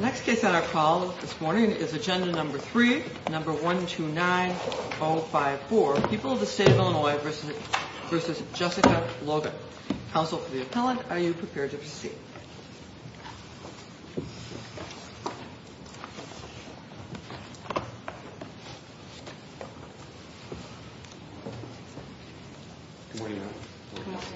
Next case on our call this morning is agenda number 3, number 129054, People of the State of Illinois v. Jessica Logan. Counsel for the appellant, are you prepared to proceed? Good morning, ma'am. Good morning.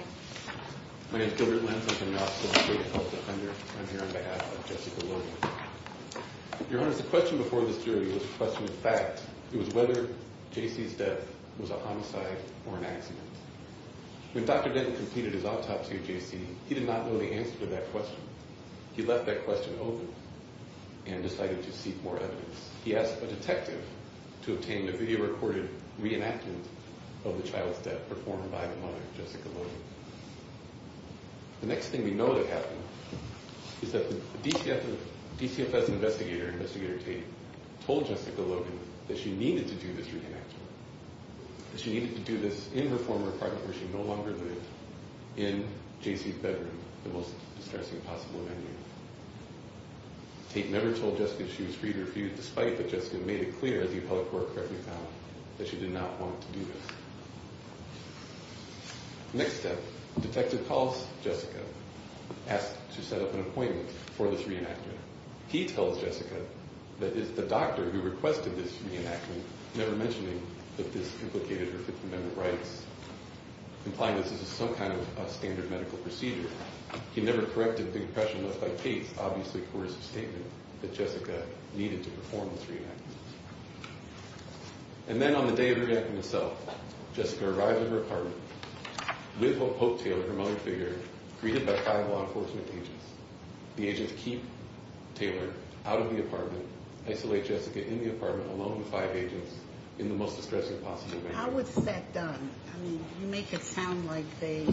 My name is Gilbert Lentz, I'm from the Office of the State of Health at Hunter. I'm here on behalf of Jessica Logan. Your Honor, the question before this jury was a question of fact. It was whether J.C.'s death was a homicide or an accident. When Dr. Denton completed his autopsy of J.C., he did not know the answer to that question. He left that question open and decided to seek more evidence. He asked a detective to obtain a video-recorded reenactment of the child's death performed by the mother, Jessica Logan. The next thing we know that happened is that the DCFS investigator, Investigator Tate, told Jessica Logan that she needed to do this reenactment, that she needed to do this in her former apartment where she no longer lived, in J.C.'s bedroom, the most distressing possible venue. Tate never told Jessica she was free to refuse, despite that Jessica made it clear, as the appellate court correctly found, that she did not want to do this. Next step, the detective calls Jessica, asks to set up an appointment for this reenactment. He tells Jessica that it's the doctor who requested this reenactment, never mentioning that this implicated her Fifth Amendment rights, implying that this is some kind of standard medical procedure. He never corrected the impression left by Tate's obviously coercive statement that Jessica needed to perform this reenactment. And then on the day of the reenactment itself, Jessica arrives at her apartment with Hope Taylor, her mother figure, greeted by five law enforcement agents. The agents keep Taylor out of the apartment, isolate Jessica in the apartment alone with five agents in the most distressing possible venue. How was that done? I mean, you make it sound like they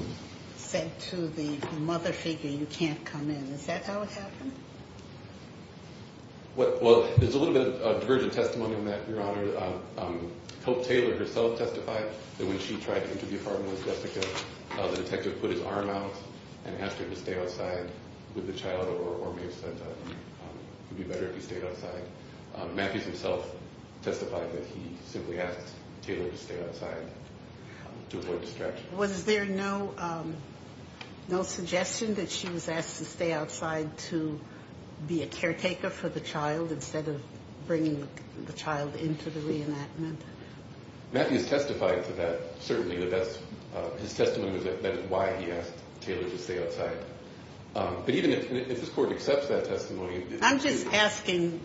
said to the mother figure, you can't come in. Is that how it happened? Well, there's a little bit of divergent testimony on that, Your Honor. Hope Taylor herself testified that when she tried to enter the apartment with Jessica, the detective put his arm out and asked her to stay outside with the child, or may have said it would be better if he stayed outside. Matthews himself testified that he simply asked Taylor to stay outside to avoid distraction. Was there no suggestion that she was asked to stay outside to be a caretaker for the child instead of bringing the child into the reenactment? Matthews testified to that, certainly. His testimony was that why he asked Taylor to stay outside. But even if this Court accepts that testimony... I'm just asking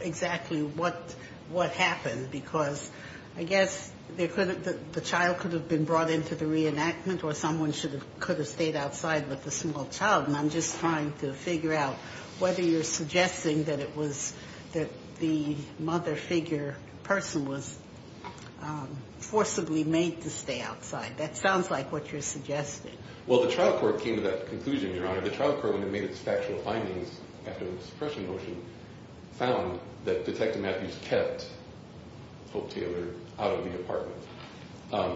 exactly what happened, because I guess the child could have been brought into the reenactment or someone could have stayed outside with the small child, and I'm just trying to figure out whether you're suggesting that it was that the mother figure person was forcibly made to stay outside. That sounds like what you're suggesting. Well, the trial court came to that conclusion, Your Honor. The trial court, when it made its factual findings after the suppression motion, found that Detective Matthews kept Folk Taylor out of the apartment.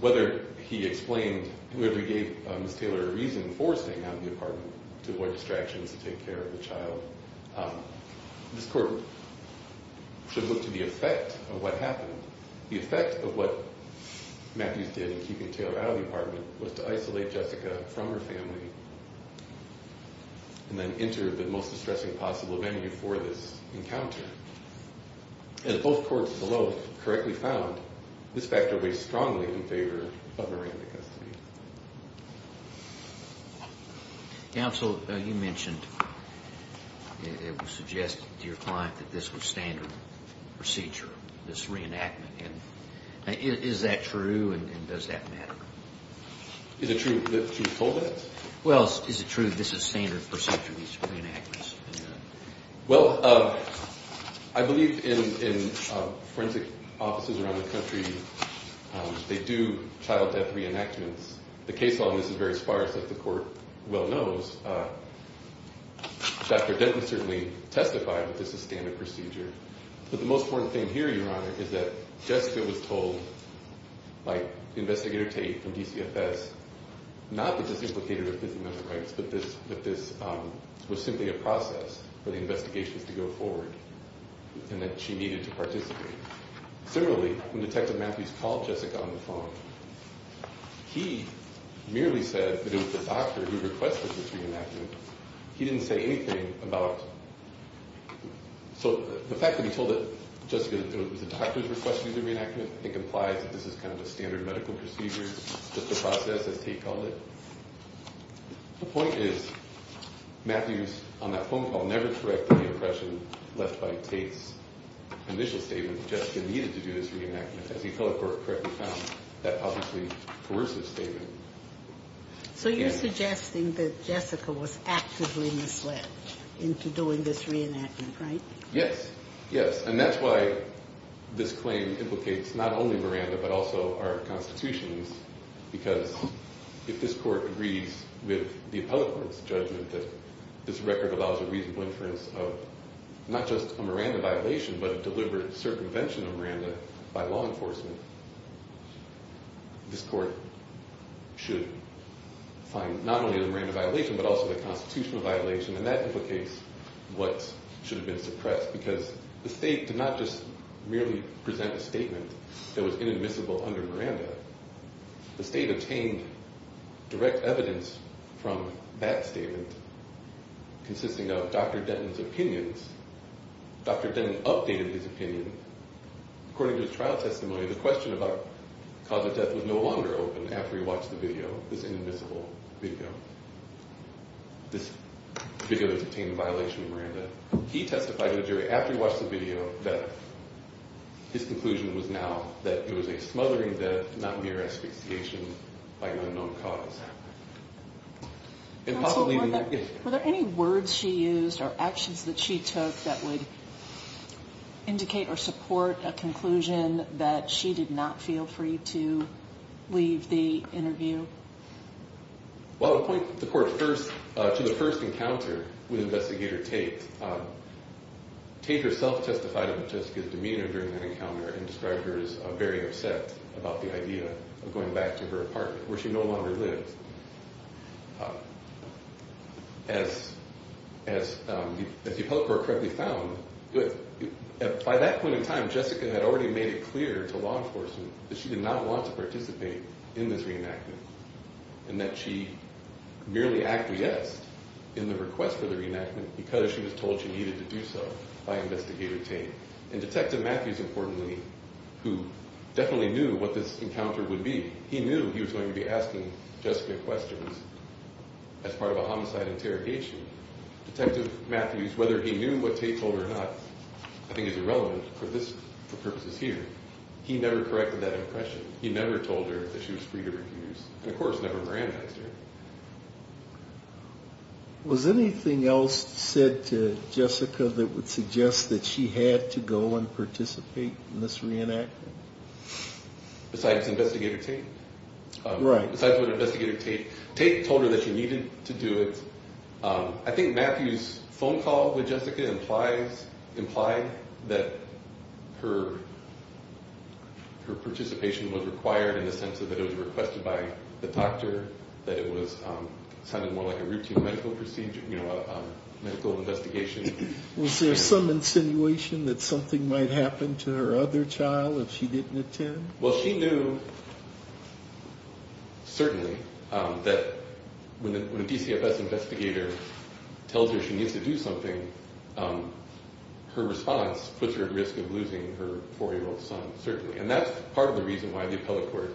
Whether he explained... Whether he gave Ms. Taylor a reason for staying out of the apartment to avoid distractions to take care of the child, this Court should look to the effect of what happened. The best option was to isolate Jessica from her family and then enter the most distressing possible venue for this encounter. And if both courts below correctly found, this factor weighs strongly in favor of her into custody. Counsel, you mentioned... It was suggested to your client that this was standard procedure, this reenactment. Is that true, and does that matter? Is it true that she was told that? Well, is it true that this is standard procedure, these reenactments? Well, I believe in forensic offices around the country, they do child death reenactments. The case on this is very sparse, as the Court well knows. Dr. Denton certainly testified that this is standard procedure. But the most important thing here, Your Honor, is that Jessica was told by Investigator Tate from DCFS not that this implicated her physical and mental rights, but that this was simply a process for the investigations to go forward and that she needed to participate. Similarly, when Detective Matthews called Jessica on the phone, he merely said that it was the doctor who requested the reenactment. He didn't say anything about... So the fact that he told that Jessica was the doctor who requested the reenactment, I think implies that this is kind of a standard medical procedure, just a process as Tate called it. The point is, Matthews on that phone call never corrected the impression left by Tate's initial statement that Jessica needed to do this reenactment, as he fellow court correctly found that obviously coercive statement. So you're suggesting that Jessica was actively misled into doing this reenactment, right? Yes. Yes. And that's why this claim implicates not only Miranda but also our Constitution because if this Court agrees with the appellate court's judgment that this record allows a reasonable inference of not just a Miranda violation but a deliberate circumvention of Miranda by law enforcement, this Court should find not only the Miranda violation but also the Constitutional violation, and that implicates what should have been suppressed because the State did not just merely present a statement that was inadmissible under Miranda. The State obtained direct evidence from that statement consisting of Dr. Denton's opinions. Dr. Denton updated his opinion. According to his trial testimony, the question about the cause of death was no longer open after he watched the video, this inadmissible video. This video has obtained a violation of Miranda. He testified to the jury after he watched the video that his conclusion was now that it was a smothering death, not mere asphyxiation by an unknown cause. Were there any words she used or actions that she took that would indicate or support a conclusion that she did not feel free to leave the interview? Well, the point that the Court first, to the first encounter with Investigator Tate, Tate herself testified about Jessica's demeanor during that encounter and described her as very upset about the idea of going back to her apartment where she no longer lived. As the Appellate Court correctly found, by that point in time, Jessica had already made it clear to law enforcement that she did not want to participate in this reenactment and that she merely acted yes in the request for the reenactment because she was told she needed to do so by Investigator Tate. And Detective Matthews, importantly, who definitely knew what this encounter would be, he knew he was going to be asking Jessica questions as part of a homicide interrogation. Detective Matthews, whether he knew what Tate told her or not, I think is irrelevant for purposes here. He never corrected that impression. He never told her that she was free to refuse and, of course, never randomized her. Was anything else said to Jessica that would suggest that she had to go and participate in this reenactment? Besides Investigator Tate? Right. Besides Investigator Tate. Tate told her that she needed to do it. I think Matthews' phone call with Jessica implied that her participation was required in the sense that it was requested by the doctor, that it sounded more like a routine medical investigation. Was there some insinuation that something might happen to her other child if she didn't attend? Well, she knew, certainly, that when a DCFS investigator tells her she needs to do something, her response puts her at risk of losing her 4-year-old son, certainly. And that's part of the reason why the appellate court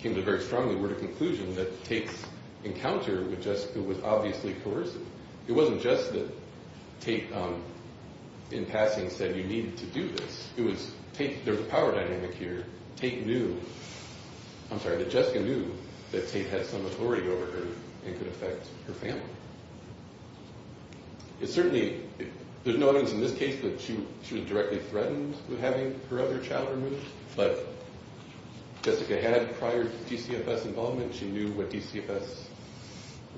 came to the very strong word of conclusion that Tate's encounter with Jessica was obviously coercive. It wasn't just that Tate, in passing, said you needed to do this. There was a power dynamic here. Tate knew, I'm sorry, that Jessica knew that Tate had some authority over her and could affect her family. It certainly, there's no evidence in this case that she was directly threatened with having her other child removed, but Jessica had prior DCFS involvement. She knew what DCFS,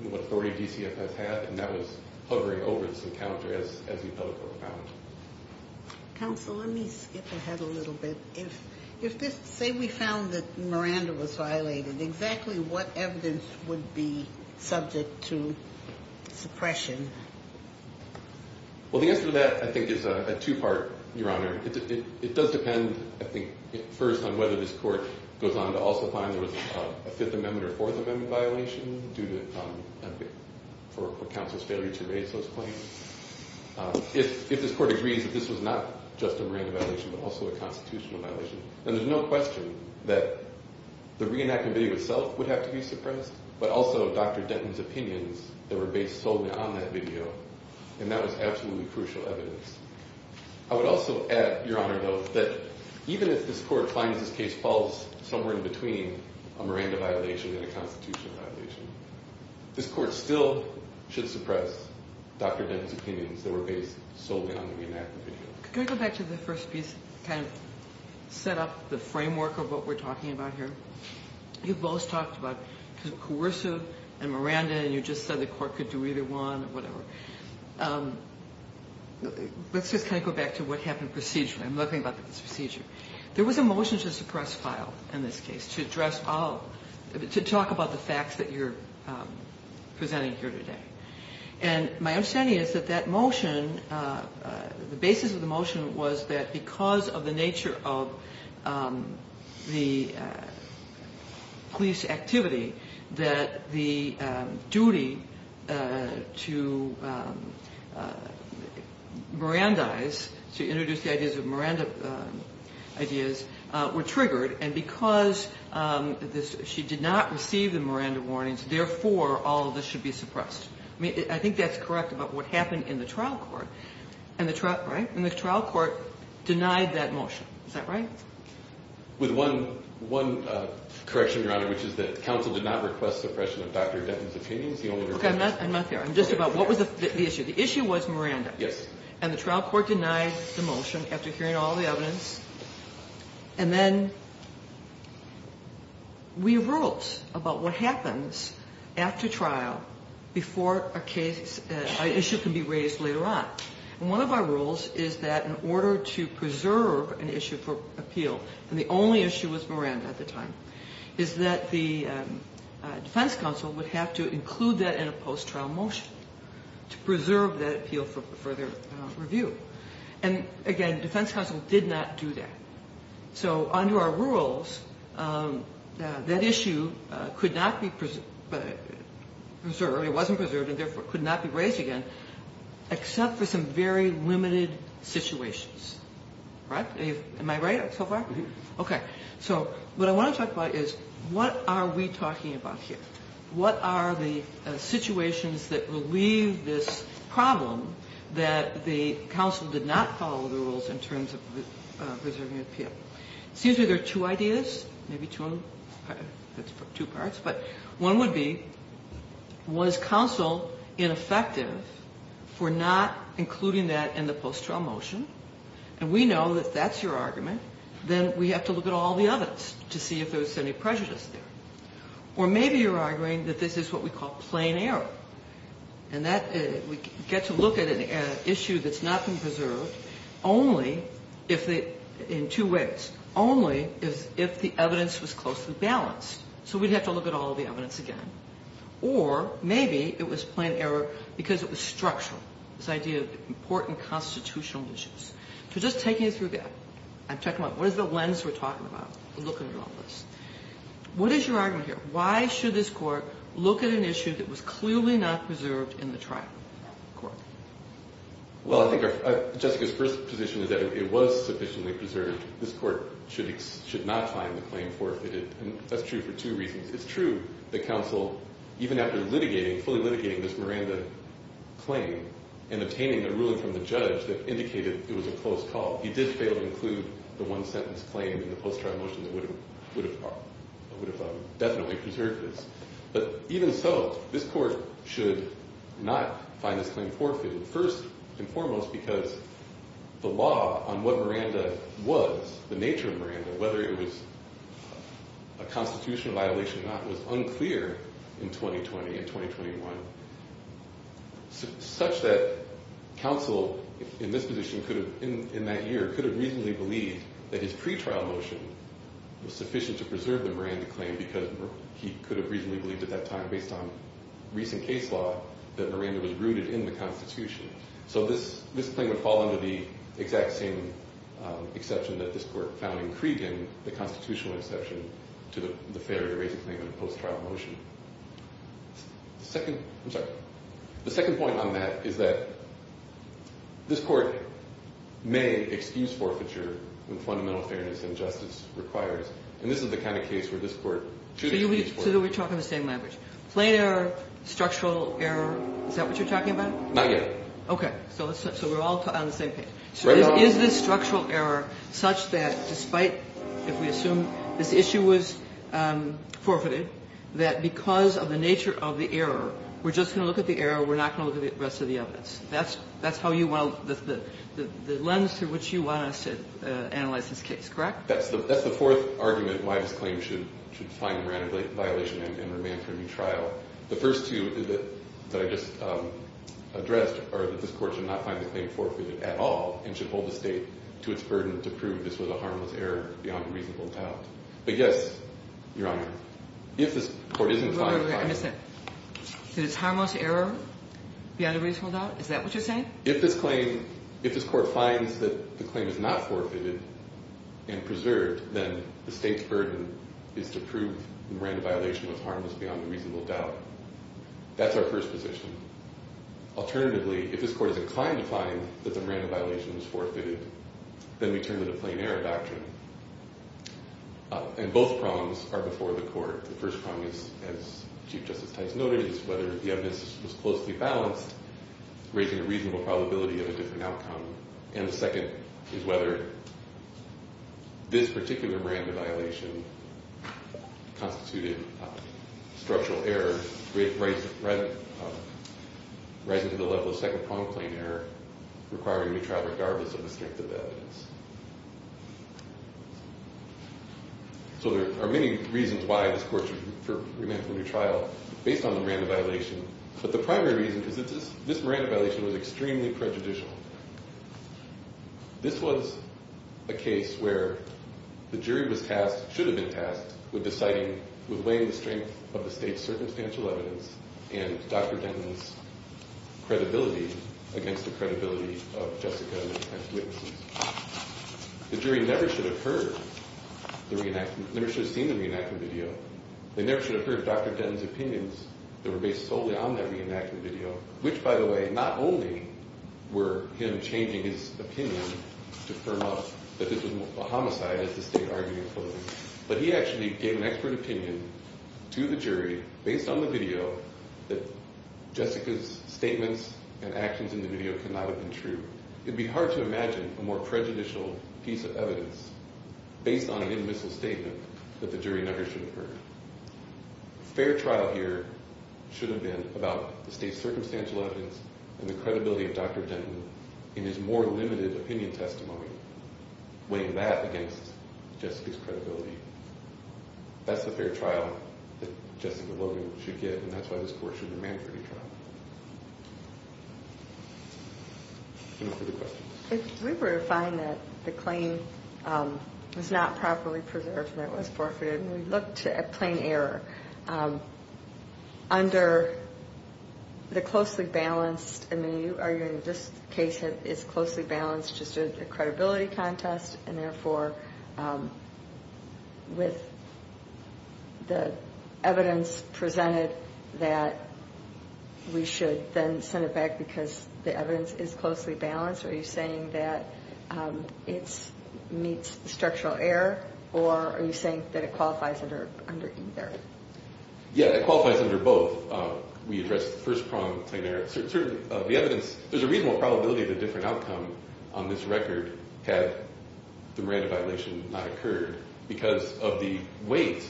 what authority DCFS had, and that was hovering over this encounter as the appellate court found it. Counsel, let me skip ahead a little bit. If this, say we found that Miranda was violated, exactly what evidence would be subject to suppression? Well, the answer to that, I think, is a two-part, Your Honor. It does depend, I think, first on whether this court goes on to also find there was a Fifth Amendment or Fourth Amendment violation due to, for counsel's failure to raise those claims. If this court agrees that this was not just a Miranda violation but also a constitutional violation, then there's no question that the reenactment video itself would have to be suppressed, but also Dr. Denton's opinions that were based solely on that video, and that was absolutely crucial evidence. I would also add, Your Honor, though, that even if this court finds this case falls somewhere in between a Miranda violation and a constitutional violation, this court still should suppress Dr. Denton's opinions that were based solely on the reenactment video. Could I go back to the first piece, kind of set up the framework of what we're talking about here? You both talked about coercive and Miranda, and you just said the court could do either one or whatever. Let's just kind of go back to what happened procedurally. I'm looking about this procedure. There was a motion to suppress file in this case to address all, to talk about the facts that you're presenting here today. And my understanding is that that motion, the basis of the motion was that because of the nature of the police activity that the duty to Mirandize, to introduce the ideas of Miranda ideas, were triggered, and because she did not receive the Miranda warnings, therefore, all of this should be suppressed. I think that's correct about what happened in the trial court. And the trial court denied that motion. Is that right? With one correction, Your Honor, which is that counsel did not request suppression of Dr. Denton's opinions. Okay, I'm not there. I'm just about, what was the issue? The issue was Miranda. Yes. And the trial court denied the motion after hearing all the evidence. And then we wrote about what happens after trial before a case, an issue can be raised later on. And one of our rules is that in order to preserve an issue for appeal, and the only issue was Miranda at the time, is that the defense counsel would have to include that in a post-trial motion to preserve that appeal for further review. And, again, defense counsel did not do that. So under our rules, that issue could not be preserved, it wasn't preserved and therefore could not be raised again, except for some very limited situations. Am I right so far? Mm-hmm. Okay. So what I want to talk about is what are we talking about here? What are the situations that relieve this problem that the counsel did not follow the rules in terms of preserving appeal? It seems like there are two ideas, maybe two of them. That's two parts, but one would be, was counsel ineffective for not including that in the post-trial motion? And we know that that's your argument. Then we have to look at all the evidence to see if there was any prejudice there. Or maybe you're arguing that this is what we call plain error, and that we get to look at an issue that's not been preserved only if the – in two ways. Only if the evidence was closely balanced. So we'd have to look at all the evidence again. Or maybe it was plain error because it was structural, this idea of important constitutional issues. So just taking it through that, I'm talking about what is the lens we're talking about, looking at all this. What is your argument here? Why should this court look at an issue that was clearly not preserved in the trial court? Well, I think Jessica's first position is that it was sufficiently preserved. This court should not find the claim forfeited. And that's true for two reasons. It's true that counsel, even after litigating, fully litigating this Miranda claim and obtaining the ruling from the judge that indicated it was a close call, he did fail to include the one-sentence claim in the post-trial motion that would have definitely preserved this. But even so, this court should not find this claim forfeited, first and foremost because the law on what Miranda was, the nature of Miranda, whether it was a constitutional violation or not, was unclear in 2020 and 2021, such that counsel in this position could have, in that year, could have reasonably believed that his pre-trial motion was sufficient to preserve the Miranda claim because he could have reasonably believed at that time, based on recent case law, that Miranda was rooted in the Constitution. So this claim would fall under the exact same exception that this court found in Cregan, the constitutional exception to the failure to raise a claim in a post-trial motion. The second, I'm sorry, the second point on that is that this court may excuse the Miranda claim for a misforfeiture when fundamental fairness and justice requires. And this is the kind of case where this court should excuse for. Kagan. So we're talking the same language. Plain error, structural error. Is that what you're talking about? Not yet. Okay. So we're all on the same page. Right now. So is this structural error such that despite, if we assume this issue was forfeited, that because of the nature of the error, we're just going to look at the error, we're not going to look at the rest of the evidence? That's how you want to, the lens through which you want us to analyze this case, correct? That's the fourth argument why this claim should find a Miranda violation and remain for a new trial. The first two that I just addressed are that this court should not find the claim forfeited at all and should hold the State to its burden to prove this was a harmless error beyond a reasonable doubt. But, yes, Your Honor, if this court isn't fined. Did it's harmless error beyond a reasonable doubt? Is that what you're saying? If this claim, if this court finds that the claim is not forfeited and preserved, then the State's burden is to prove the Miranda violation was harmless beyond a reasonable doubt. That's our first position. Alternatively, if this court is inclined to find that the Miranda violation was forfeited, then we turn to the plain error doctrine. And both prongs are before the court. The first prong, as Chief Justice Tice noted, is whether the evidence was closely balanced, raising a reasonable probability of a different outcome. And the second is whether this particular Miranda violation constituted structural error rising to the level of second-pronged plain error requiring a new trial, regardless of the strength of the evidence. So there are many reasons why this court should remain for a new trial, based on the Miranda violation. But the primary reason is that this Miranda violation was extremely prejudicial. This was a case where the jury was tasked, should have been tasked, with deciding, with weighing the strength of the State's circumstantial evidence and Dr. Denton's credibility against the credibility of Jessica and the defense witnesses. The jury never should have heard the reenactment, never should have seen the reenactment video. They never should have heard Dr. Denton's opinions that were based solely on that reenactment video, which, by the way, not only were him changing his opinion to firm up that this was a homicide, as the State argued in closing, but he actually gave an expert opinion to the jury, based on the video, that Jessica's statements and actions in the video could not have been true. It would be hard to imagine a more prejudicial piece of evidence, based on an in-missile statement, that the jury never should have heard. A fair trial here should have been about the State's circumstantial evidence and the credibility of Dr. Denton in his more limited opinion testimony, weighing that against Jessica's credibility. That's the fair trial that Jessica Logan should get, and that's why this court should remain for a new trial. If we were to find that the claim was not properly preserved and it was forfeited, and we looked at plain error, under the closely balanced, I mean, are you arguing this case is closely balanced just to the credibility contest, and therefore, with the evidence presented that we should then send it back because the evidence is closely balanced? Are you saying that it meets structural error, or are you saying that it qualifies under either? Yeah, it qualifies under both. We addressed the first problem, plain error. The evidence, there's a reasonable probability that a different outcome on this record had the Miranda violation not occurred because of the weight.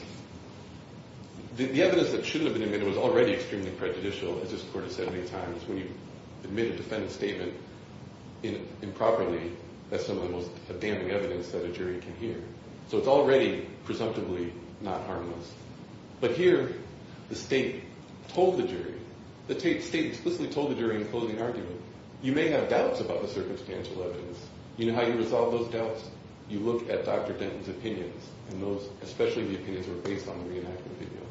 The evidence that shouldn't have been amended was already extremely prejudicial, as this court has said many times. When you admit a defendant's statement improperly, that's some of the most damning evidence that a jury can hear. So it's already presumptively not harmless. But here, the state told the jury, the state explicitly told the jury in the closing argument, you may have doubts about the circumstantial evidence. You know how you resolve those doubts? You look at Dr. Denton's opinions, and those, especially the opinions that were based on the reenactment video.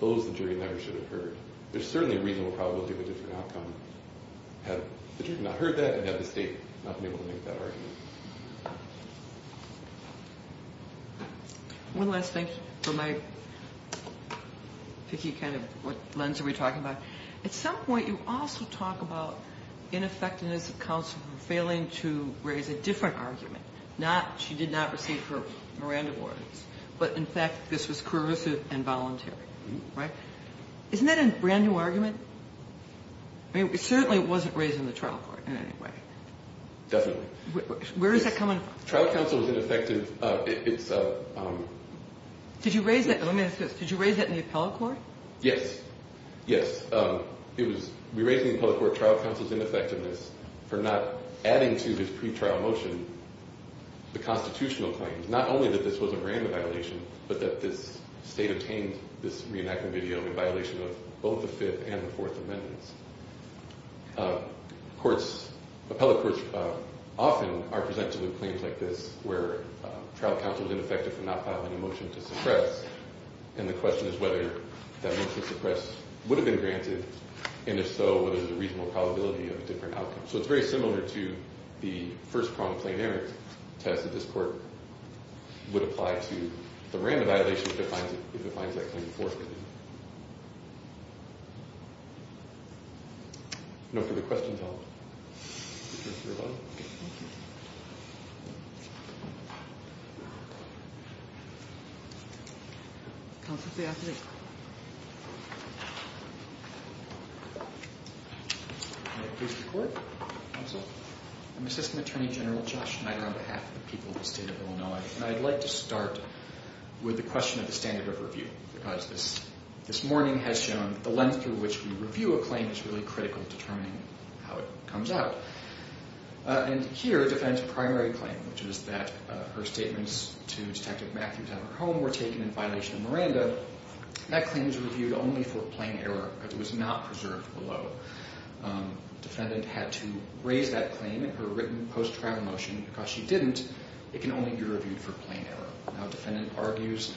Those, the jury never should have heard. There's certainly a reasonable probability of a different outcome had the jury not heard that and had the state not been able to make that argument. One last thing for my picky kind of lens we're talking about. At some point, you also talk about ineffectiveness of counsel failing to raise a different argument, not she did not receive her Miranda warrants, but, in fact, this was coercive and voluntary, right? Isn't that a brand-new argument? I mean, it certainly wasn't raised in the trial court in any way. Definitely. Where is that coming from? Trial counsel is ineffective. It's a... Did you raise that? Let me ask this. Did you raise that in the appellate court? Yes. Yes. It was, we raised in the appellate court trial counsel's ineffectiveness for not adding to this pretrial motion the constitutional claims, not only that this was a Miranda violation, but that this state obtained this reenactment video in violation of both the Fifth and the Fourth Amendments. Courts, appellate courts, often are presented with claims like this where trial counsel is ineffective for not filing a motion to suppress, and the question is whether that motion to suppress would have been granted, and if so, whether there's a reasonable probability of a different outcome. So it's very similar to the first chronic plain error test that this court would apply to the Miranda violation if it finds that claim in Fourth Amendment. No further questions at all? Okay. Thank you. Counsel to the appellate. Please record, counsel. I'm Assistant Attorney General Josh Schneider on behalf of the people of the state of Illinois, and I'd like to start with the question of the standard of review because this morning has shown the length through which we review a claim is really critical to determining how it comes out. And here it defends a primary claim, which is that her statements to Detective Matthews at her home were taken in violation of Miranda. That claim is reviewed only for plain error because it was not preserved below. Defendant had to raise that claim in her written post-trial motion because she didn't. It can only be reviewed for plain error. Now, defendant argues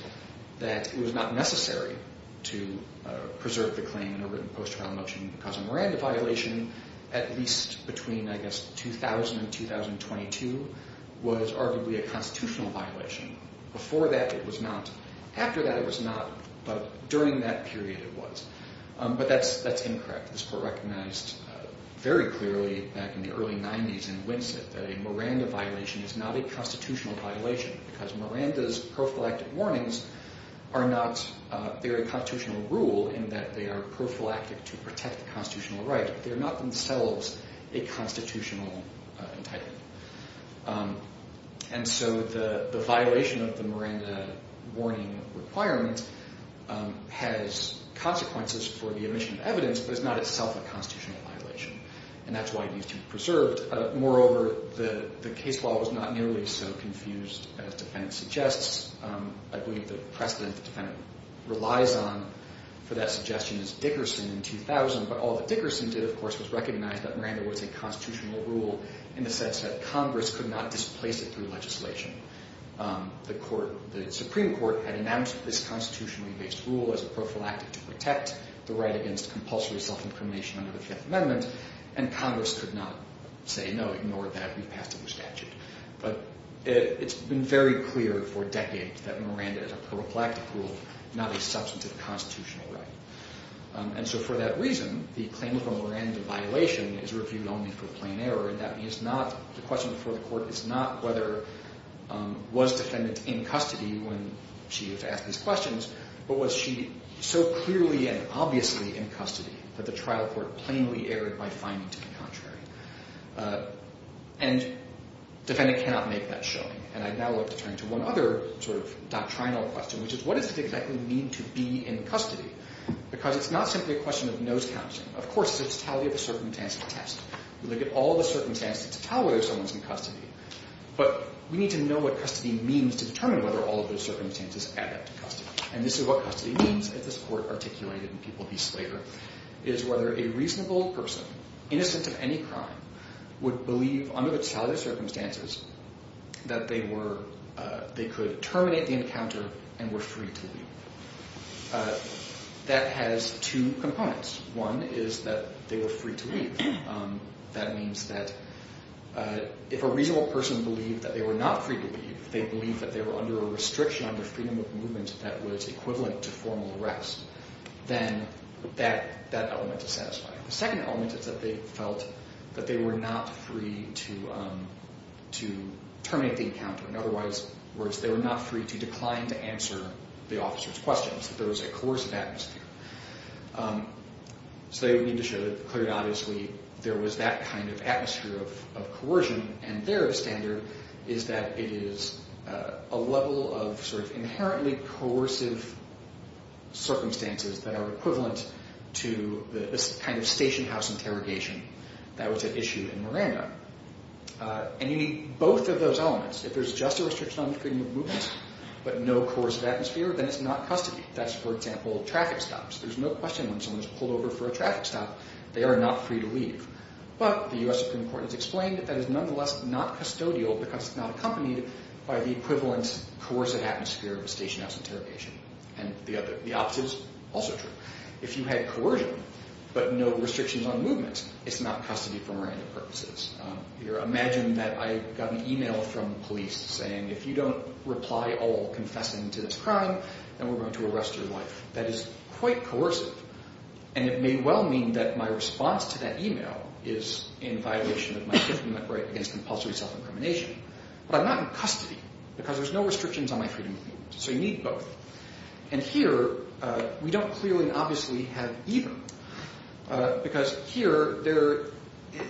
that it was not necessary to preserve the claim in her written post-trial motion because a Miranda violation, at least between, I guess, 2000 and 2022, was arguably a constitutional violation. Before that, it was not. After that, it was not. But during that period, it was. But that's incorrect. This court recognized very clearly back in the early 90s in Winsett that a Miranda violation is not a constitutional violation because Miranda's prophylactic warnings are not very constitutional rule in that they are prophylactic to protect the constitutional right. They're not themselves a constitutional entitlement. And so the violation of the Miranda warning requirement has consequences for the omission of evidence, but it's not itself a constitutional violation, and that's why it needs to be preserved. Moreover, the case law was not nearly so confused as defendant suggests. I believe the precedent the defendant relies on for that suggestion is Dickerson in 2000, but all that Dickerson did, of course, was recognize that Miranda was a constitutional rule in the sense that Congress could not displace it through legislation. The Supreme Court had announced this constitutionally-based rule as a prophylactic to protect the right against compulsory self-incrimination under the Fifth Amendment, and Congress could not say, no, ignore that. We passed it with statute. But it's been very clear for decades that Miranda is a prophylactic rule, not a substantive constitutional right. And so for that reason, the claim of a Miranda violation is reviewed only for plain error, and that means the question before the court is not whether was defendant in custody when she was asked these questions, but was she so clearly and obviously in custody that the trial court plainly erred by finding to be contrary. And defendant cannot make that showing. And I'd now like to turn to one other sort of doctrinal question, which is what does it exactly mean to be in custody? Because it's not simply a question of nose-counting. Of course, it's a totality of the circumstances test. We look at all the circumstances to tell whether someone's in custody, but we need to know what custody means to determine whether all of those circumstances add up to custody. And this is what custody means, as this court articulated in People v. Slater, is whether a reasonable person, innocent of any crime, would believe under the totality of circumstances that they could terminate the encounter and were free to leave. That has two components. One is that they were free to leave. That means that if a reasonable person believed that they were not free to leave, if they believed that they were under a restriction on their freedom of movement that was equivalent to formal arrest, then that element is satisfying. The second element is that they felt that they were not free to terminate the encounter, whereas they were not free to decline to answer the officer's questions, that there was a coercive atmosphere. So they would need to show that clearly, obviously, there was that kind of atmosphere of coercion, and their standard is that it is a level of sort of inherently coercive circumstances that are equivalent to the kind of stationhouse interrogation that was at issue in Miranda. And you need both of those elements. If there's just a restriction on the freedom of movement, but no coercive atmosphere, then it's not custody. That's, for example, traffic stops. There's no question when someone's pulled over for a traffic stop, they are not free to leave. But the U.S. Supreme Court has explained that that is nonetheless not custodial because it's not accompanied by the equivalent coercive atmosphere of a stationhouse interrogation. And the opposite is also true. If you had coercion, but no restrictions on movement, it's not custody for Miranda purposes. Imagine that I got an email from police saying, if you don't reply all confessing to this crime, then we're going to arrest your wife. That is quite coercive, and it may well mean that my response to that email is in violation of my civil right against compulsory self-incrimination. But I'm not in custody because there's no restrictions on my freedom of movement. So you need both. And here, we don't clearly and obviously have either because here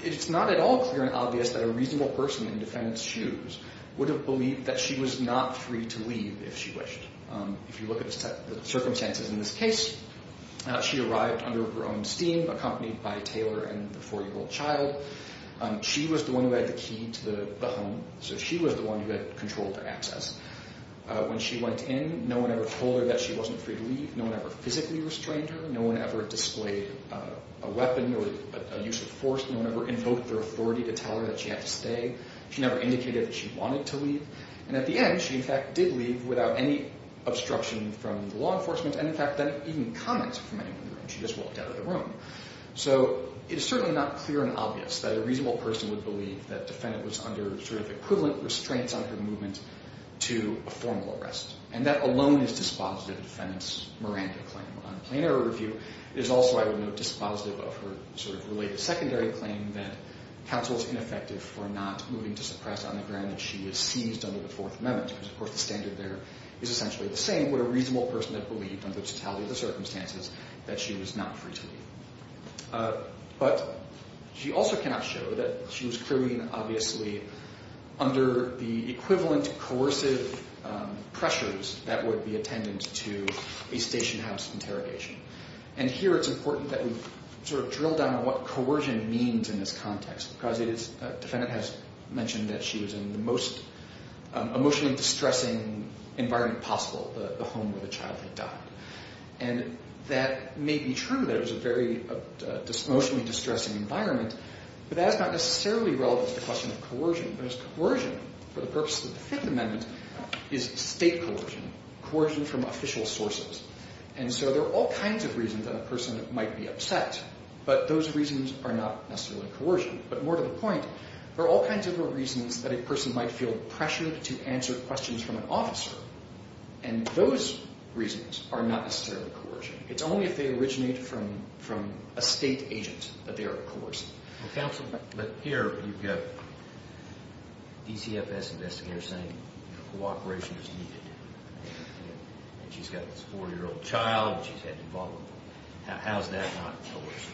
it's not at all clear and obvious that a reasonable person in defendant's shoes would have believed that she was not free to leave if she wished. If you look at the circumstances in this case, she arrived under her own steam accompanied by Taylor and the four-year-old child. She was the one who had the key to the home, so she was the one who had control of access. When she went in, no one ever told her that she wasn't free to leave. No one ever physically restrained her. No one ever displayed a weapon or a use of force. She never indicated that she wanted to leave. And at the end, she, in fact, did leave without any obstruction from the law enforcement and, in fact, didn't even comment from anyone in the room. She just walked out of the room. So it is certainly not clear and obvious that a reasonable person would believe that defendant was under sort of equivalent restraints on her movement to a formal arrest. And that alone is dispositive of defendant's Miranda claim. On plain error review, it is also, I would note, dispositive of her sort of related secondary claim that counsel is ineffective for not moving to suppress on the ground that she was seized under the Fourth Amendment, because, of course, the standard there is essentially the same. Would a reasonable person have believed under the totality of the circumstances that she was not free to leave? But she also cannot show that she was clearly and obviously under the equivalent coercive pressures that would be attendant to a station house interrogation. And here it's important that we sort of drill down on what coercion means in this context, because the defendant has mentioned that she was in the most emotionally distressing environment possible, the home where the child had died. And that may be true that it was a very emotionally distressing environment, but that is not necessarily relevant to the question of coercion, because coercion, for the purposes of the Fifth Amendment, is state coercion, coercion from official sources. And so there are all kinds of reasons that a person might be upset, but those reasons are not necessarily coercion. But more to the point, there are all kinds of reasons that a person might feel pressured to answer questions from an officer, and those reasons are not necessarily coercion. It's only if they originate from a state agent that they are coercive. Counsel, but here you've got DCFS investigators saying cooperation is needed, and she's got this 4-year-old child, and she's had to involve them. How is that not coercion?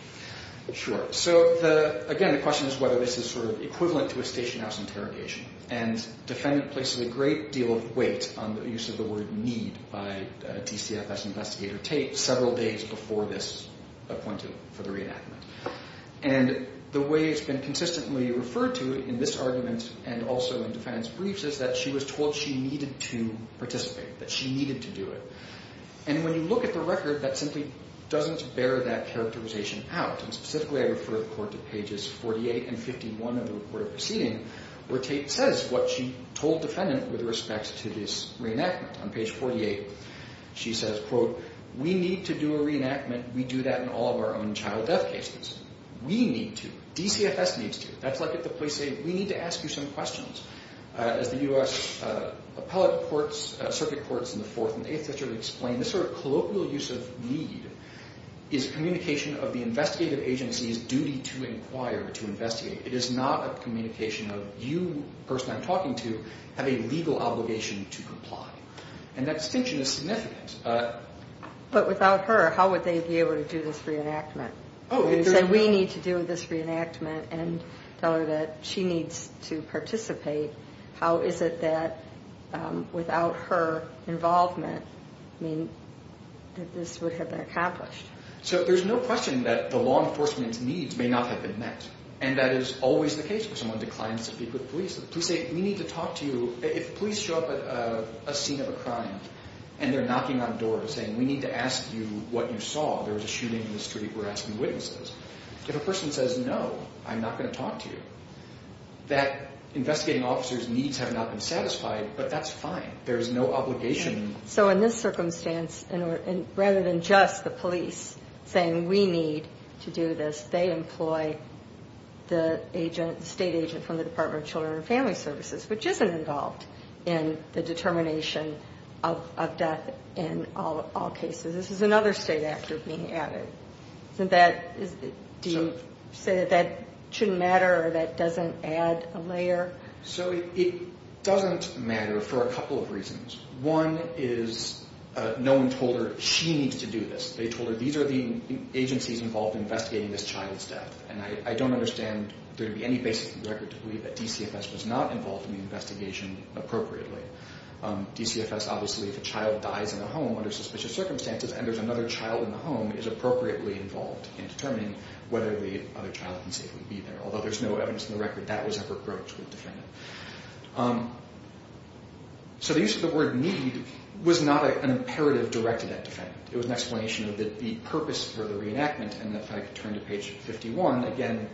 Sure. So, again, the question is whether this is sort of equivalent to a station house interrogation, and the defendant places a great deal of weight on the use of the word need by DCFS investigator Tate several days before this appointment for the reenactment. And the way it's been consistently referred to in this argument and also in defendant's briefs is that she was told she needed to participate, that she needed to do it. And when you look at the record, that simply doesn't bear that characterization out. And specifically, I refer the court to pages 48 and 51 of the recorded proceeding, where Tate says what she told defendant with respect to this reenactment. On page 48, she says, quote, We need to do a reenactment. We do that in all of our own child death cases. We need to. DCFS needs to. That's like if the police say, We need to ask you some questions. As the U.S. Appellate Courts, Circuit Courts in the 4th and 8th centuries explain, this sort of colloquial use of need is communication of the investigative agency's duty to inquire, to investigate. It is not a communication of, You, the person I'm talking to, have a legal obligation to comply. And that distinction is significant. But without her, how would they be able to do this reenactment? If they said, We need to do this reenactment and tell her that she needs to participate, how is it that without her involvement, I mean, that this would have been accomplished? So there's no question that the law enforcement's needs may not have been met. And that is always the case when someone declines to speak with police. The police say, We need to talk to you. If police show up at a scene of a crime and they're knocking on doors saying, We need to ask you what you saw. There was a shooting in the street. We're asking witnesses. If a person says, No, I'm not going to talk to you, that investigating officer's needs have not been satisfied, but that's fine. There is no obligation. So in this circumstance, rather than just the police saying, We need to do this, they employ the state agent from the Department of Children and Family Services, which isn't involved in the determination of death in all cases. This is another state actor being added. Do you say that that shouldn't matter or that doesn't add a layer? So it doesn't matter for a couple of reasons. One is no one told her, She needs to do this. They told her, These are the agencies involved in investigating this child's death, and I don't understand there to be any basis in the record to believe that DCFS was not involved in the investigation appropriately. DCFS, obviously, if a child dies in a home under suspicious circumstances and there's another child in the home, is appropriately involved in determining whether the other child can safely be there, although there's no evidence in the record that was ever approached with a defendant. So the use of the word need was not an imperative directed at a defendant. It was an explanation of the purpose for the reenactment. And if I could turn to page 51, again,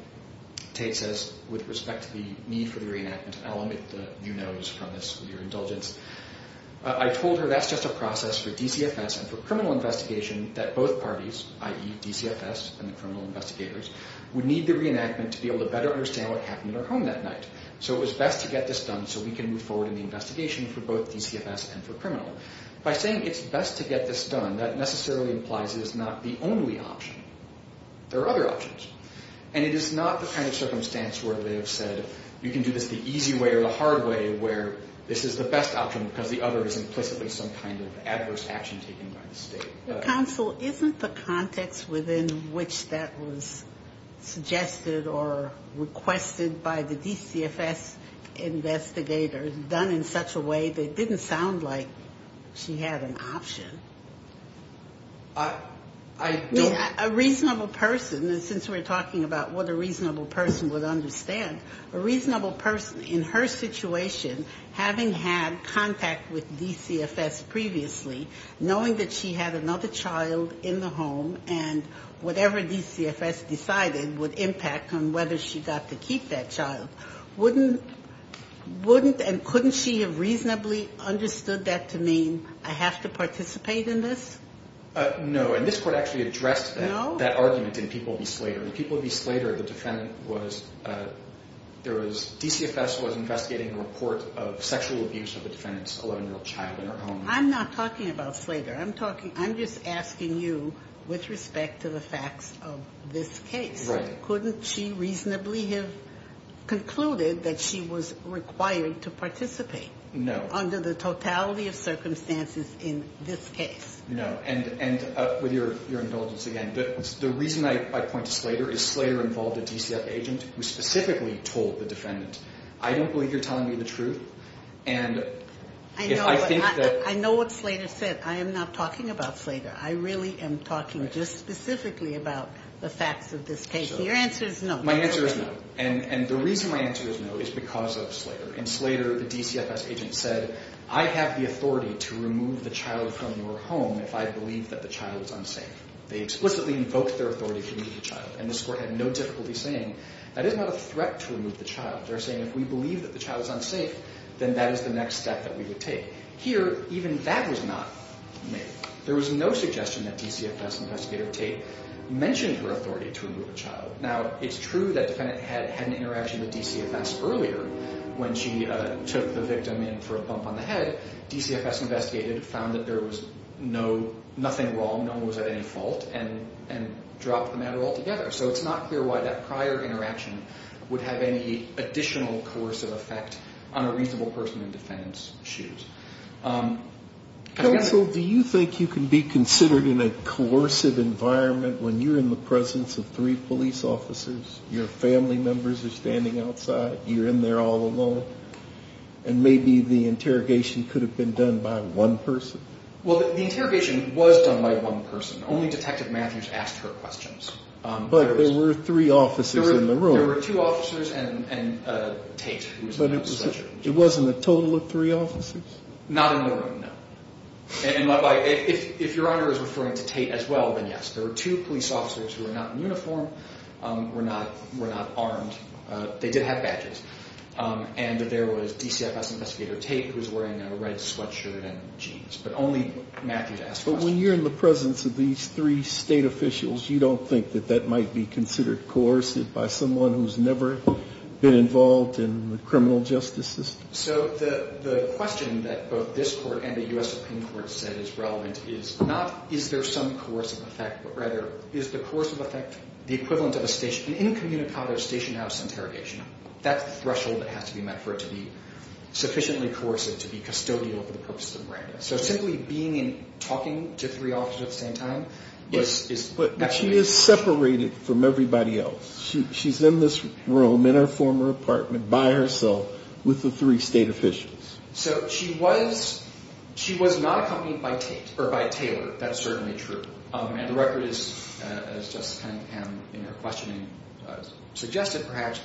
Tate says, With respect to the need for the reenactment, I'll omit the you knows from this with your indulgence, I told her that's just a process for DCFS and for criminal investigation that both parties, i.e. DCFS and the criminal investigators, would need the reenactment to be able to better understand what happened in her home that night. So it was best to get this done so we can move forward in the investigation for both DCFS and for criminal. By saying it's best to get this done, that necessarily implies it is not the only option. There are other options. And it is not the kind of circumstance where they have said you can do this the easy way or the hard way where this is the best option because the other is implicitly some kind of adverse action taken by the state. The counsel, isn't the context within which that was suggested or requested by the DCFS investigators done in such a way that it didn't sound like she had an option? A reasonable person, since we're talking about what a reasonable person would understand, a reasonable person in her situation, having had contact with DCFS previously, knowing that she had another child in the home and whatever DCFS decided would impact on whether she got to keep that child, wouldn't and couldn't she have reasonably understood that to mean I have to participate in this? No, and this Court actually addressed that argument in People v. Slater. In People v. Slater, the defendant was, there was, DCFS was investigating a report of sexual abuse of a defendant's 11-year-old child in her home. I'm not talking about Slater. I'm just asking you with respect to the facts of this case. Right. Wouldn't she reasonably have concluded that she was required to participate? No. Under the totality of circumstances in this case. No. And with your indulgence again, the reason I point to Slater is Slater involved a DCFS agent who specifically told the defendant. I don't believe you're telling me the truth, and if I think that... I know what Slater said. I am not talking about Slater. I really am talking just specifically about the facts of this case. Your answer is no. My answer is no. And the reason my answer is no is because of Slater. In Slater, the DCFS agent said, I have the authority to remove the child from your home if I believe that the child is unsafe. They explicitly invoked their authority to remove the child, and this Court had no difficulty saying that is not a threat to remove the child. They're saying if we believe that the child is unsafe, then that is the next step that we would take. Here, even that was not made. There was no suggestion that DCFS investigator Tate mentioned her authority to remove a child. Now, it's true that the defendant had an interaction with DCFS earlier when she took the victim in for a bump on the head. DCFS investigated, found that there was nothing wrong, no one was at any fault, and dropped the matter altogether. So it's not clear why that prior interaction would have any additional coercive effect on a reasonable person in the defendant's shoes. Counsel, do you think you can be considered in a coercive environment when you're in the presence of three police officers, your family members are standing outside, you're in there all alone, and maybe the interrogation could have been done by one person? Well, the interrogation was done by one person. Only Detective Matthews asked her questions. But there were three officers in the room. There were two officers and Tate. But it wasn't a total of three officers? Not in the room, no. And if Your Honor is referring to Tate as well, then yes. There were two police officers who were not in uniform, were not armed. They did have badges. And there was DCFS investigator Tate who was wearing a red sweatshirt and jeans. But only Matthews asked questions. But when you're in the presence of these three state officials, you don't think that that might be considered coercive by someone who's never been involved in the criminal justice system? So the question that both this court and the U.S. Supreme Court said is relevant is not is there some coercive effect, but rather is the coercive effect the equivalent of an incommunicado station house interrogation? That's the threshold that has to be met for it to be sufficiently coercive to be custodial for the purposes of Miranda. So simply being and talking to three officers at the same time is necessary. But she is separated from everybody else. She's in this room in her former apartment by herself with the three state officials. So she was not accompanied by Tate or by Taylor. That's certainly true. And the record is, as Justice Kennedy-Pam in her questioning suggested perhaps,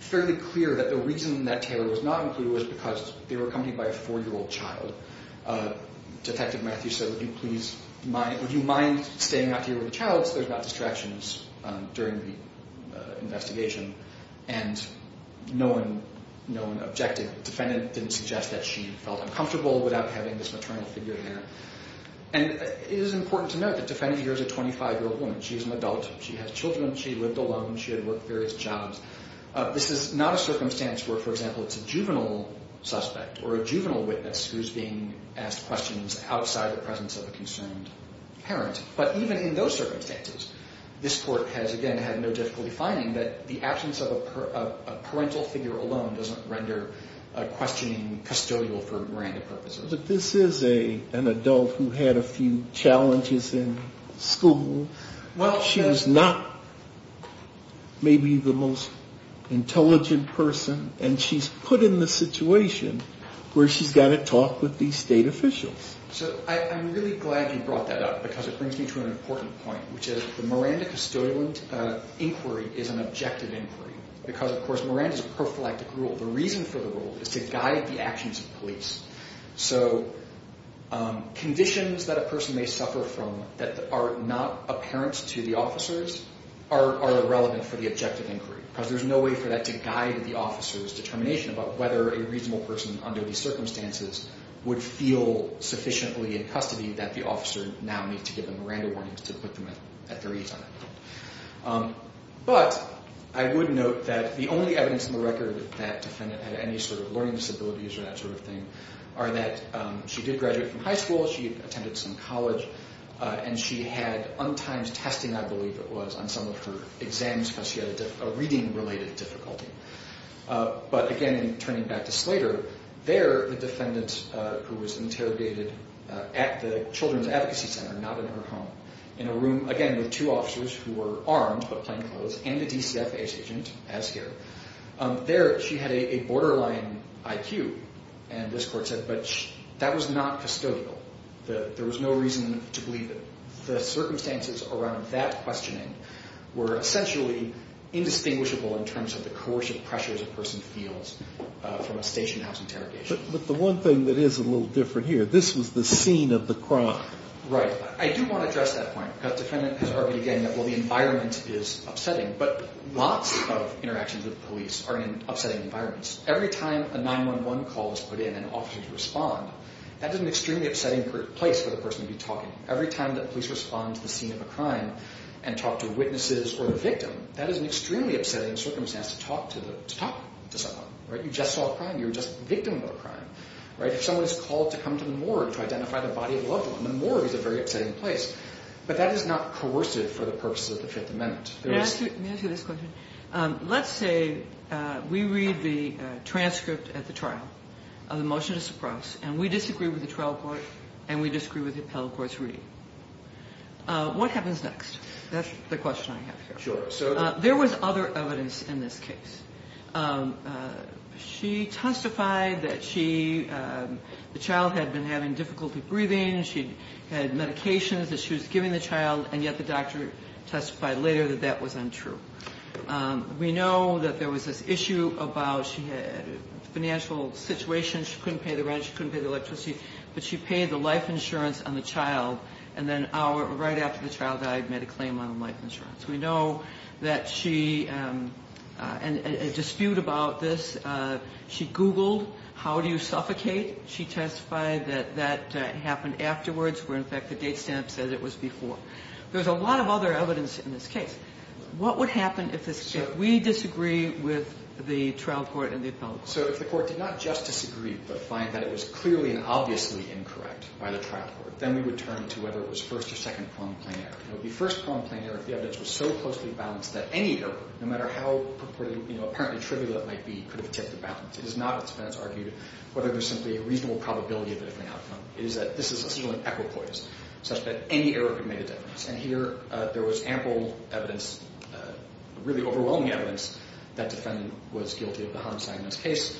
fairly clear that the reason that Taylor was not included was because they were accompanied by a 4-year-old child. Detective Matthews said, would you mind staying out here with the child unless there's not distractions during the investigation. And no one objected. The defendant didn't suggest that she felt uncomfortable without having this maternal figure there. And it is important to note that the defendant here is a 25-year-old woman. She is an adult. She has children. She lived alone. She had worked various jobs. This is not a circumstance where, for example, it's a juvenile suspect or a juvenile witness who's being asked questions outside the presence of a concerned parent. But even in those circumstances, this court has, again, had no difficulty finding that the absence of a parental figure alone doesn't render a questioning custodial for random purposes. But this is an adult who had a few challenges in school. She was not maybe the most intelligent person. And she's put in this situation where she's got to talk with these state officials. So I'm really glad you brought that up because it brings me to an important point, which is the Miranda custodial inquiry is an objective inquiry because, of course, Miranda is a prophylactic rule. The reason for the rule is to guide the actions of police. So conditions that a person may suffer from that are not apparent to the officers are irrelevant for the objective inquiry because there's no way for that to guide the officer's determination about whether a reasonable person under these circumstances would feel sufficiently in custody that the officer now needs to give them Miranda warnings to put them at their ease on that. But I would note that the only evidence in the record that defendant had any sort of learning disabilities or that sort of thing are that she did graduate from high school, she attended some college, and she had untimed testing, I believe it was, on some of her exams because she had a reading-related difficulty. But, again, turning back to Slater, there the defendant, who was interrogated at the Children's Advocacy Center, not in her home, in a room, again, with two officers who were armed but plainclothes and a DCF agent, as here, there she had a borderline IQ, and this court said, but that was not custodial. There was no reason to believe it. The circumstances around that questioning were essentially indistinguishable in terms of the coercive pressures a person feels from a stationhouse interrogation. But the one thing that is a little different here, this was the scene of the crime. Right. I do want to address that point because the defendant has argued again that, well, the environment is upsetting, but lots of interactions with police are in upsetting environments. Every time a 911 call is put in and officers respond, that is an extremely upsetting place for the person to be talking. Every time that police respond to the scene of a crime and talk to witnesses or the victim, that is an extremely upsetting circumstance to talk to someone. You just saw a crime. You're just a victim of a crime. If someone is called to come to the morgue to identify the body of a loved one, the morgue is a very upsetting place. But that is not coercive for the purposes of the Fifth Amendment. Let me ask you this question. Let's say we read the transcript at the trial of the motion to suppress, and we disagree with the trial court and we disagree with the appellate court's reading. What happens next? That's the question I have here. Sure. There was other evidence in this case. She testified that she, the child had been having difficulty breathing, she had medications that she was giving the child, and yet the doctor testified later that that was untrue. We know that there was this issue about she had a financial situation, she couldn't pay the rent, she couldn't pay the electricity, but she paid the life insurance on the child, and then right after the child died made a claim on life insurance. We know that she, and a dispute about this, she Googled how do you suffocate. She testified that that happened afterwards, where in fact the date stamp said it was before. There was a lot of other evidence in this case. What would happen if we disagree with the trial court and the appellate court? So if the court did not just disagree, but find that it was clearly and obviously incorrect by the trial court, then we would turn to whether it was first or second plumb plain error. It would be first plumb plain error if the evidence was so closely balanced that any error, no matter how apparently trivial it might be, could have tipped the balance. It is not what the defendants argued, whether there was simply a reasonable probability of a different outcome. It is that this is essentially an equipoise, such that any error could make a difference. And here there was ample evidence, really overwhelming evidence, that the defendant was guilty of the harm sign in this case.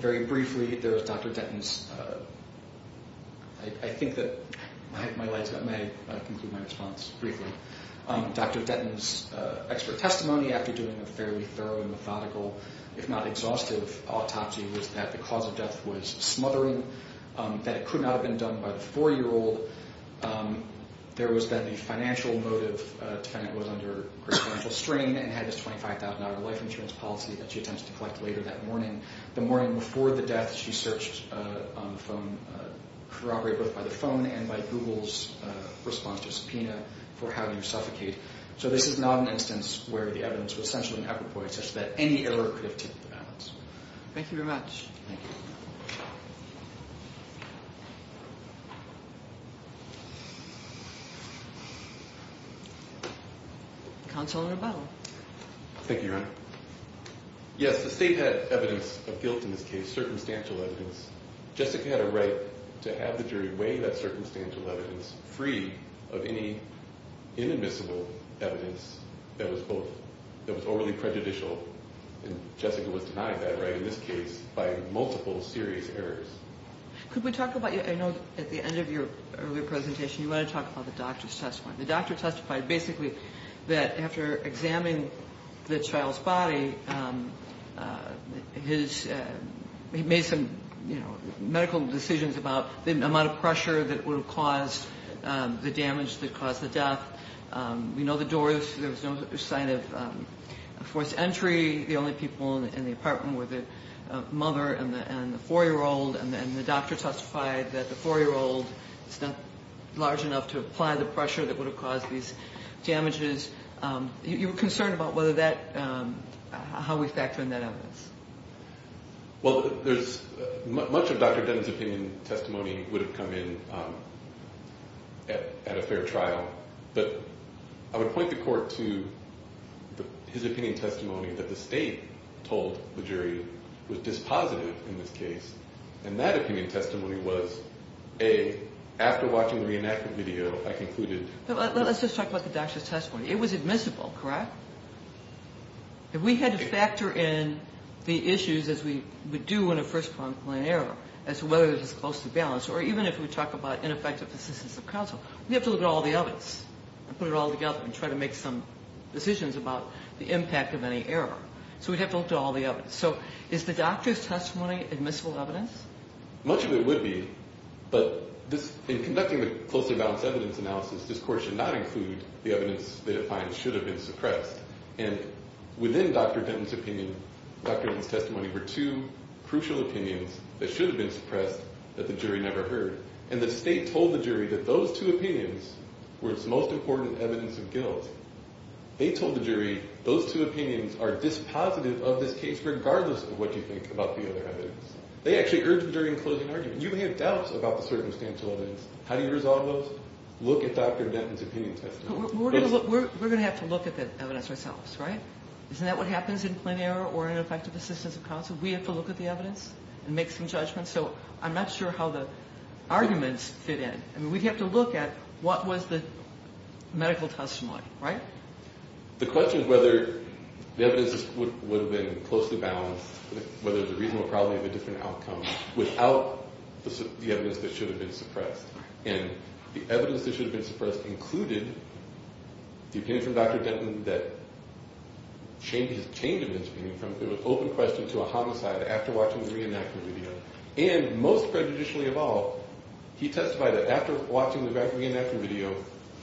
Very briefly, there was Dr. Denton's, I think that my lights got made, but I'll conclude my response briefly. Dr. Denton's expert testimony after doing a fairly thorough and methodical, if not exhaustive autopsy, was that the cause of death was smothering, that it could not have been done by the four-year-old. There was that the financial motive, the defendant was under great financial strain and had this $25,000 life insurance policy that she attempted to collect later that morning. The morning before the death, she searched on the phone, corroborated both by the phone and by Google's response to subpoena for how to suffocate. So this is not an instance where the evidence was essentially an equipoise, such that any error could have tipped the balance. Thank you very much. Thank you. Counsel Nobel. Thank you, Your Honor. Yes, the state had evidence of guilt in this case, circumstantial evidence. Jessica had a right to have the jury weigh that circumstantial evidence free of any inadmissible evidence that was both, that was overly prejudicial, and Jessica was denied that right in this case by multiple serious errors. Could we talk about, I know at the end of your earlier testimony, at the end of your presentation, you want to talk about the doctor's testimony. The doctor testified basically that after examining the child's body, he made some medical decisions about the amount of pressure that would have caused the damage that caused the death. We know the door, there was no sign of forced entry. The only people in the apartment were the mother and the 4-year-old, and the doctor testified that the 4-year-old is not large enough to apply the pressure that would have caused these damages. You were concerned about whether that, how we factor in that evidence. Well, much of Dr. Denton's opinion testimony would have come in at a fair trial, but I would point the court to his opinion testimony that the state told the jury was dispositive in this case, and that opinion testimony was, A, after watching the reenactment video, I concluded. Let's just talk about the doctor's testimony. It was admissible, correct? If we had to factor in the issues, as we do in a first-pronged claim error, as to whether it was close to balance, or even if we talk about ineffective assistance of counsel, we have to look at all the evidence and put it all together and try to make some decisions about the impact of any error. So we'd have to look at all the evidence. So is the doctor's testimony admissible evidence? Much of it would be, but in conducting the close to balance evidence analysis, this court should not include the evidence that it finds should have been suppressed. And within Dr. Denton's opinion, Dr. Denton's testimony, were two crucial opinions that should have been suppressed that the jury never heard. And the state told the jury that those two opinions were its most important evidence of guilt. They told the jury those two opinions are dispositive of this case, regardless of what you think about the other evidence. They actually urged the jury in closing arguments. You may have doubts about the circumstantial evidence. How do you resolve those? Look at Dr. Denton's opinion testimony. We're going to have to look at the evidence ourselves, right? Isn't that what happens in plain error or ineffective assistance of counsel? We have to look at the evidence and make some judgments. So I'm not sure how the arguments fit in. I mean, we'd have to look at what was the medical testimony, right? The question is whether the evidence would have been closely balanced, whether there's a reasonable probability of a different outcome, without the evidence that should have been suppressed. And the evidence that should have been suppressed included the opinion from Dr. Denton that changed his opinion from an open question to a homicide after watching the reenactment video. And most prejudicially of all, he testified that after watching the reenactment video,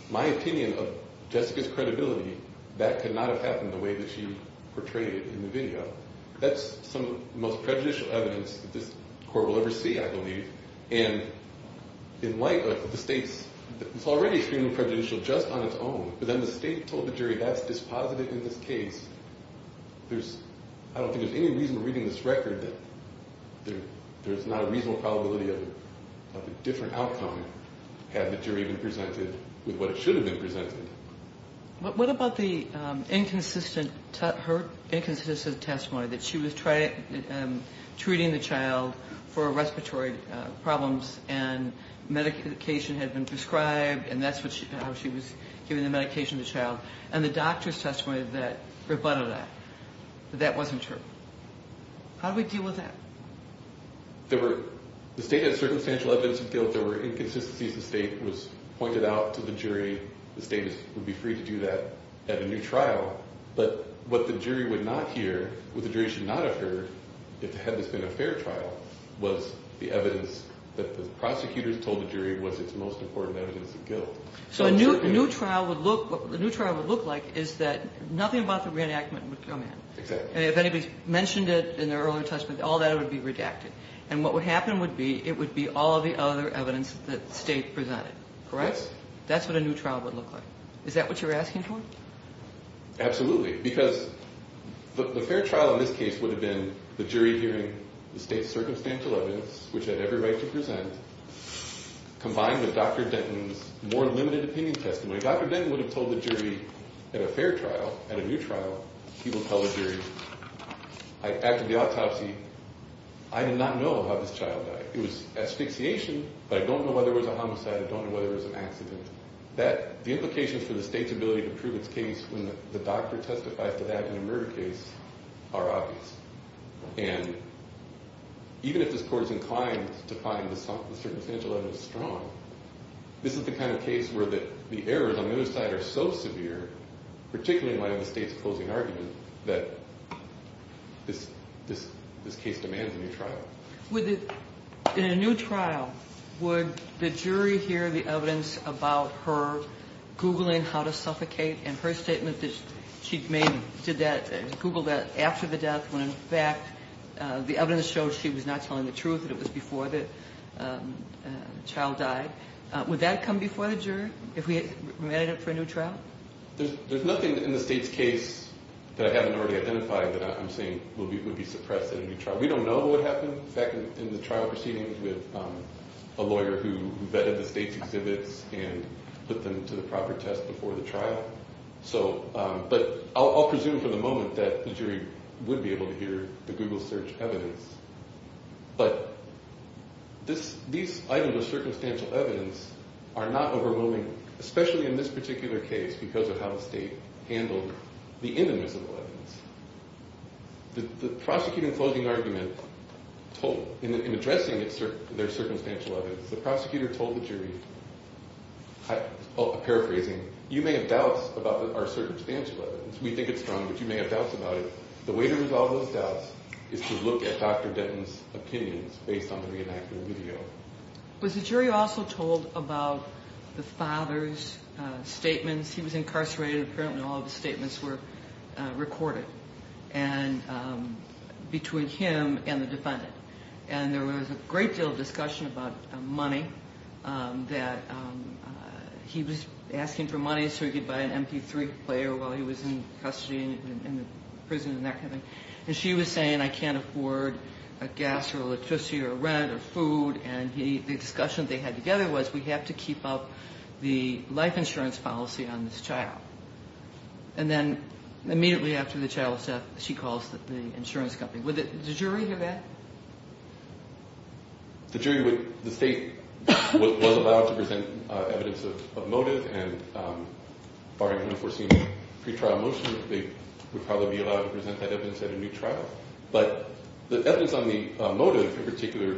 my opinion of Jessica's credibility, that could not have happened the way that she portrayed it in the video. That's some of the most prejudicial evidence that this court will ever see, I believe. And in light of the state's – it's already extremely prejudicial just on its own. But then the state told the jury that's dispositive in this case. There's – I don't think there's any reason in reading this record that there's not a reasonable probability of a different outcome had the jury been presented with what it should have been presented. What about the inconsistent – her inconsistent testimony that she was treating the child for respiratory problems and medication had been prescribed and that's how she was giving the medication to the child? And the doctor's testimony that rebutted that, that that wasn't true. How do we deal with that? There were – the state had circumstantial evidence of guilt. There were inconsistencies. The state was pointed out to the jury. The state would be free to do that at a new trial. But what the jury would not hear, what the jury should not have heard, had this been a fair trial, was the evidence that the prosecutors told the jury was its most important evidence of guilt. So a new trial would look – what a new trial would look like is that nothing about the reenactment would come in. Exactly. And if anybody's mentioned it in their earlier testimony, all that would be redacted. And what would happen would be it would be all of the other evidence that the state presented, correct? Yes. That's what a new trial would look like. Is that what you're asking for? Absolutely. Because the fair trial in this case would have been the jury hearing the state's circumstantial evidence, which had every right to present, combined with Dr. Denton's more limited opinion testimony. Dr. Denton would have told the jury at a fair trial, at a new trial, he would tell the jury, I acted the autopsy, I did not know how this child died. It was asphyxiation, but I don't know whether it was a homicide. I don't know whether it was an accident. The implications for the state's ability to prove its case when the doctor testifies to that in a murder case are obvious. And even if this court is inclined to find the circumstantial evidence strong, this is the kind of case where the errors on the other side are so severe, particularly in light of the state's opposing argument, that this case demands a new trial. In a new trial, would the jury hear the evidence about her Googling how to suffocate and her statement that she Googled that after the death when, in fact, the evidence showed she was not telling the truth, that it was before the child died? Would that come before the jury if we ran it up for a new trial? There's nothing in the state's case that I haven't already identified that I'm saying would be suppressed in a new trial. We don't know what happened, in fact, in the trial proceedings with a lawyer who vetted the state's exhibits and put them to the proper test before the trial. But I'll presume for the moment that the jury would be able to hear the Google search evidence. But these items of circumstantial evidence are not overwhelming, especially in this particular case because of how the state handled the inadmissible evidence. The prosecutor in closing argument told, in addressing their circumstantial evidence, the prosecutor told the jury, paraphrasing, you may have doubts about our circumstantial evidence. We think it's strong, but you may have doubts about it. The way to resolve those doubts is to look at Dr. Denton's opinions based on the reenactment video. Was the jury also told about the father's statements? He was incarcerated. Apparently all of his statements were recorded between him and the defendant. And there was a great deal of discussion about money, that he was asking for money so he could buy an MP3 player while he was in custody in the prison and that kind of thing. And she was saying, I can't afford a gas or electricity or rent or food. And the discussion they had together was, we have to keep up the life insurance policy on this child. And then immediately after the child's death, she calls the insurance company. Would the jury hear that? The jury would. The state was allowed to present evidence of motive, and barring an unforeseen pre-trial motion, they would probably be allowed to present that evidence at a new trial. But the evidence on the motive in particular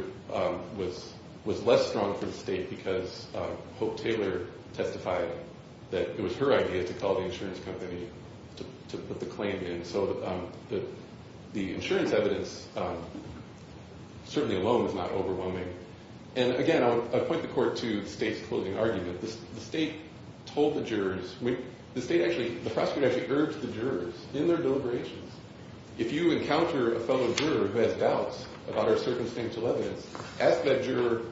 was less strong for the state because Hope Taylor testified that it was her idea to call the insurance company to put the claim in. So the insurance evidence certainly alone was not overwhelming. And again, I'll point the court to the state's closing argument. The state told the jurors, the prosecutor actually urged the jurors in their deliberations, if you encounter a fellow juror who has doubts about our circumstantial evidence, ask that juror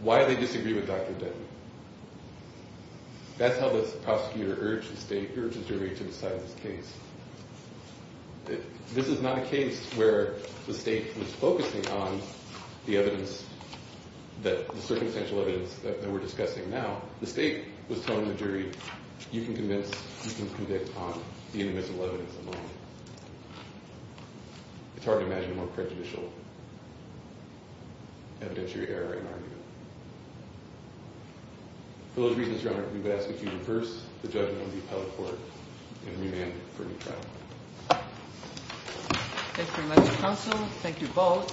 why they disagree with Dr. Denton. That's how the prosecutor urged the jury to decide this case. This is not a case where the state was focusing on the circumstantial evidence that we're discussing now. The state was telling the jury, you can convince, you can convict on the individual evidence alone. It's hard to imagine a more prejudicial evidentiary error in argument. For those reasons, Your Honor, we would ask that you reverse the judgment of the appellate court and remand for a new trial. Thank you, Mr. Counsel. Thank you both.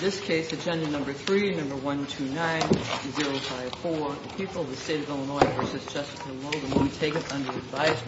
This case, Agenda Number 3, Number 129-054, People of the State of Illinois v. Jessica Lowden. Montague is under advisement.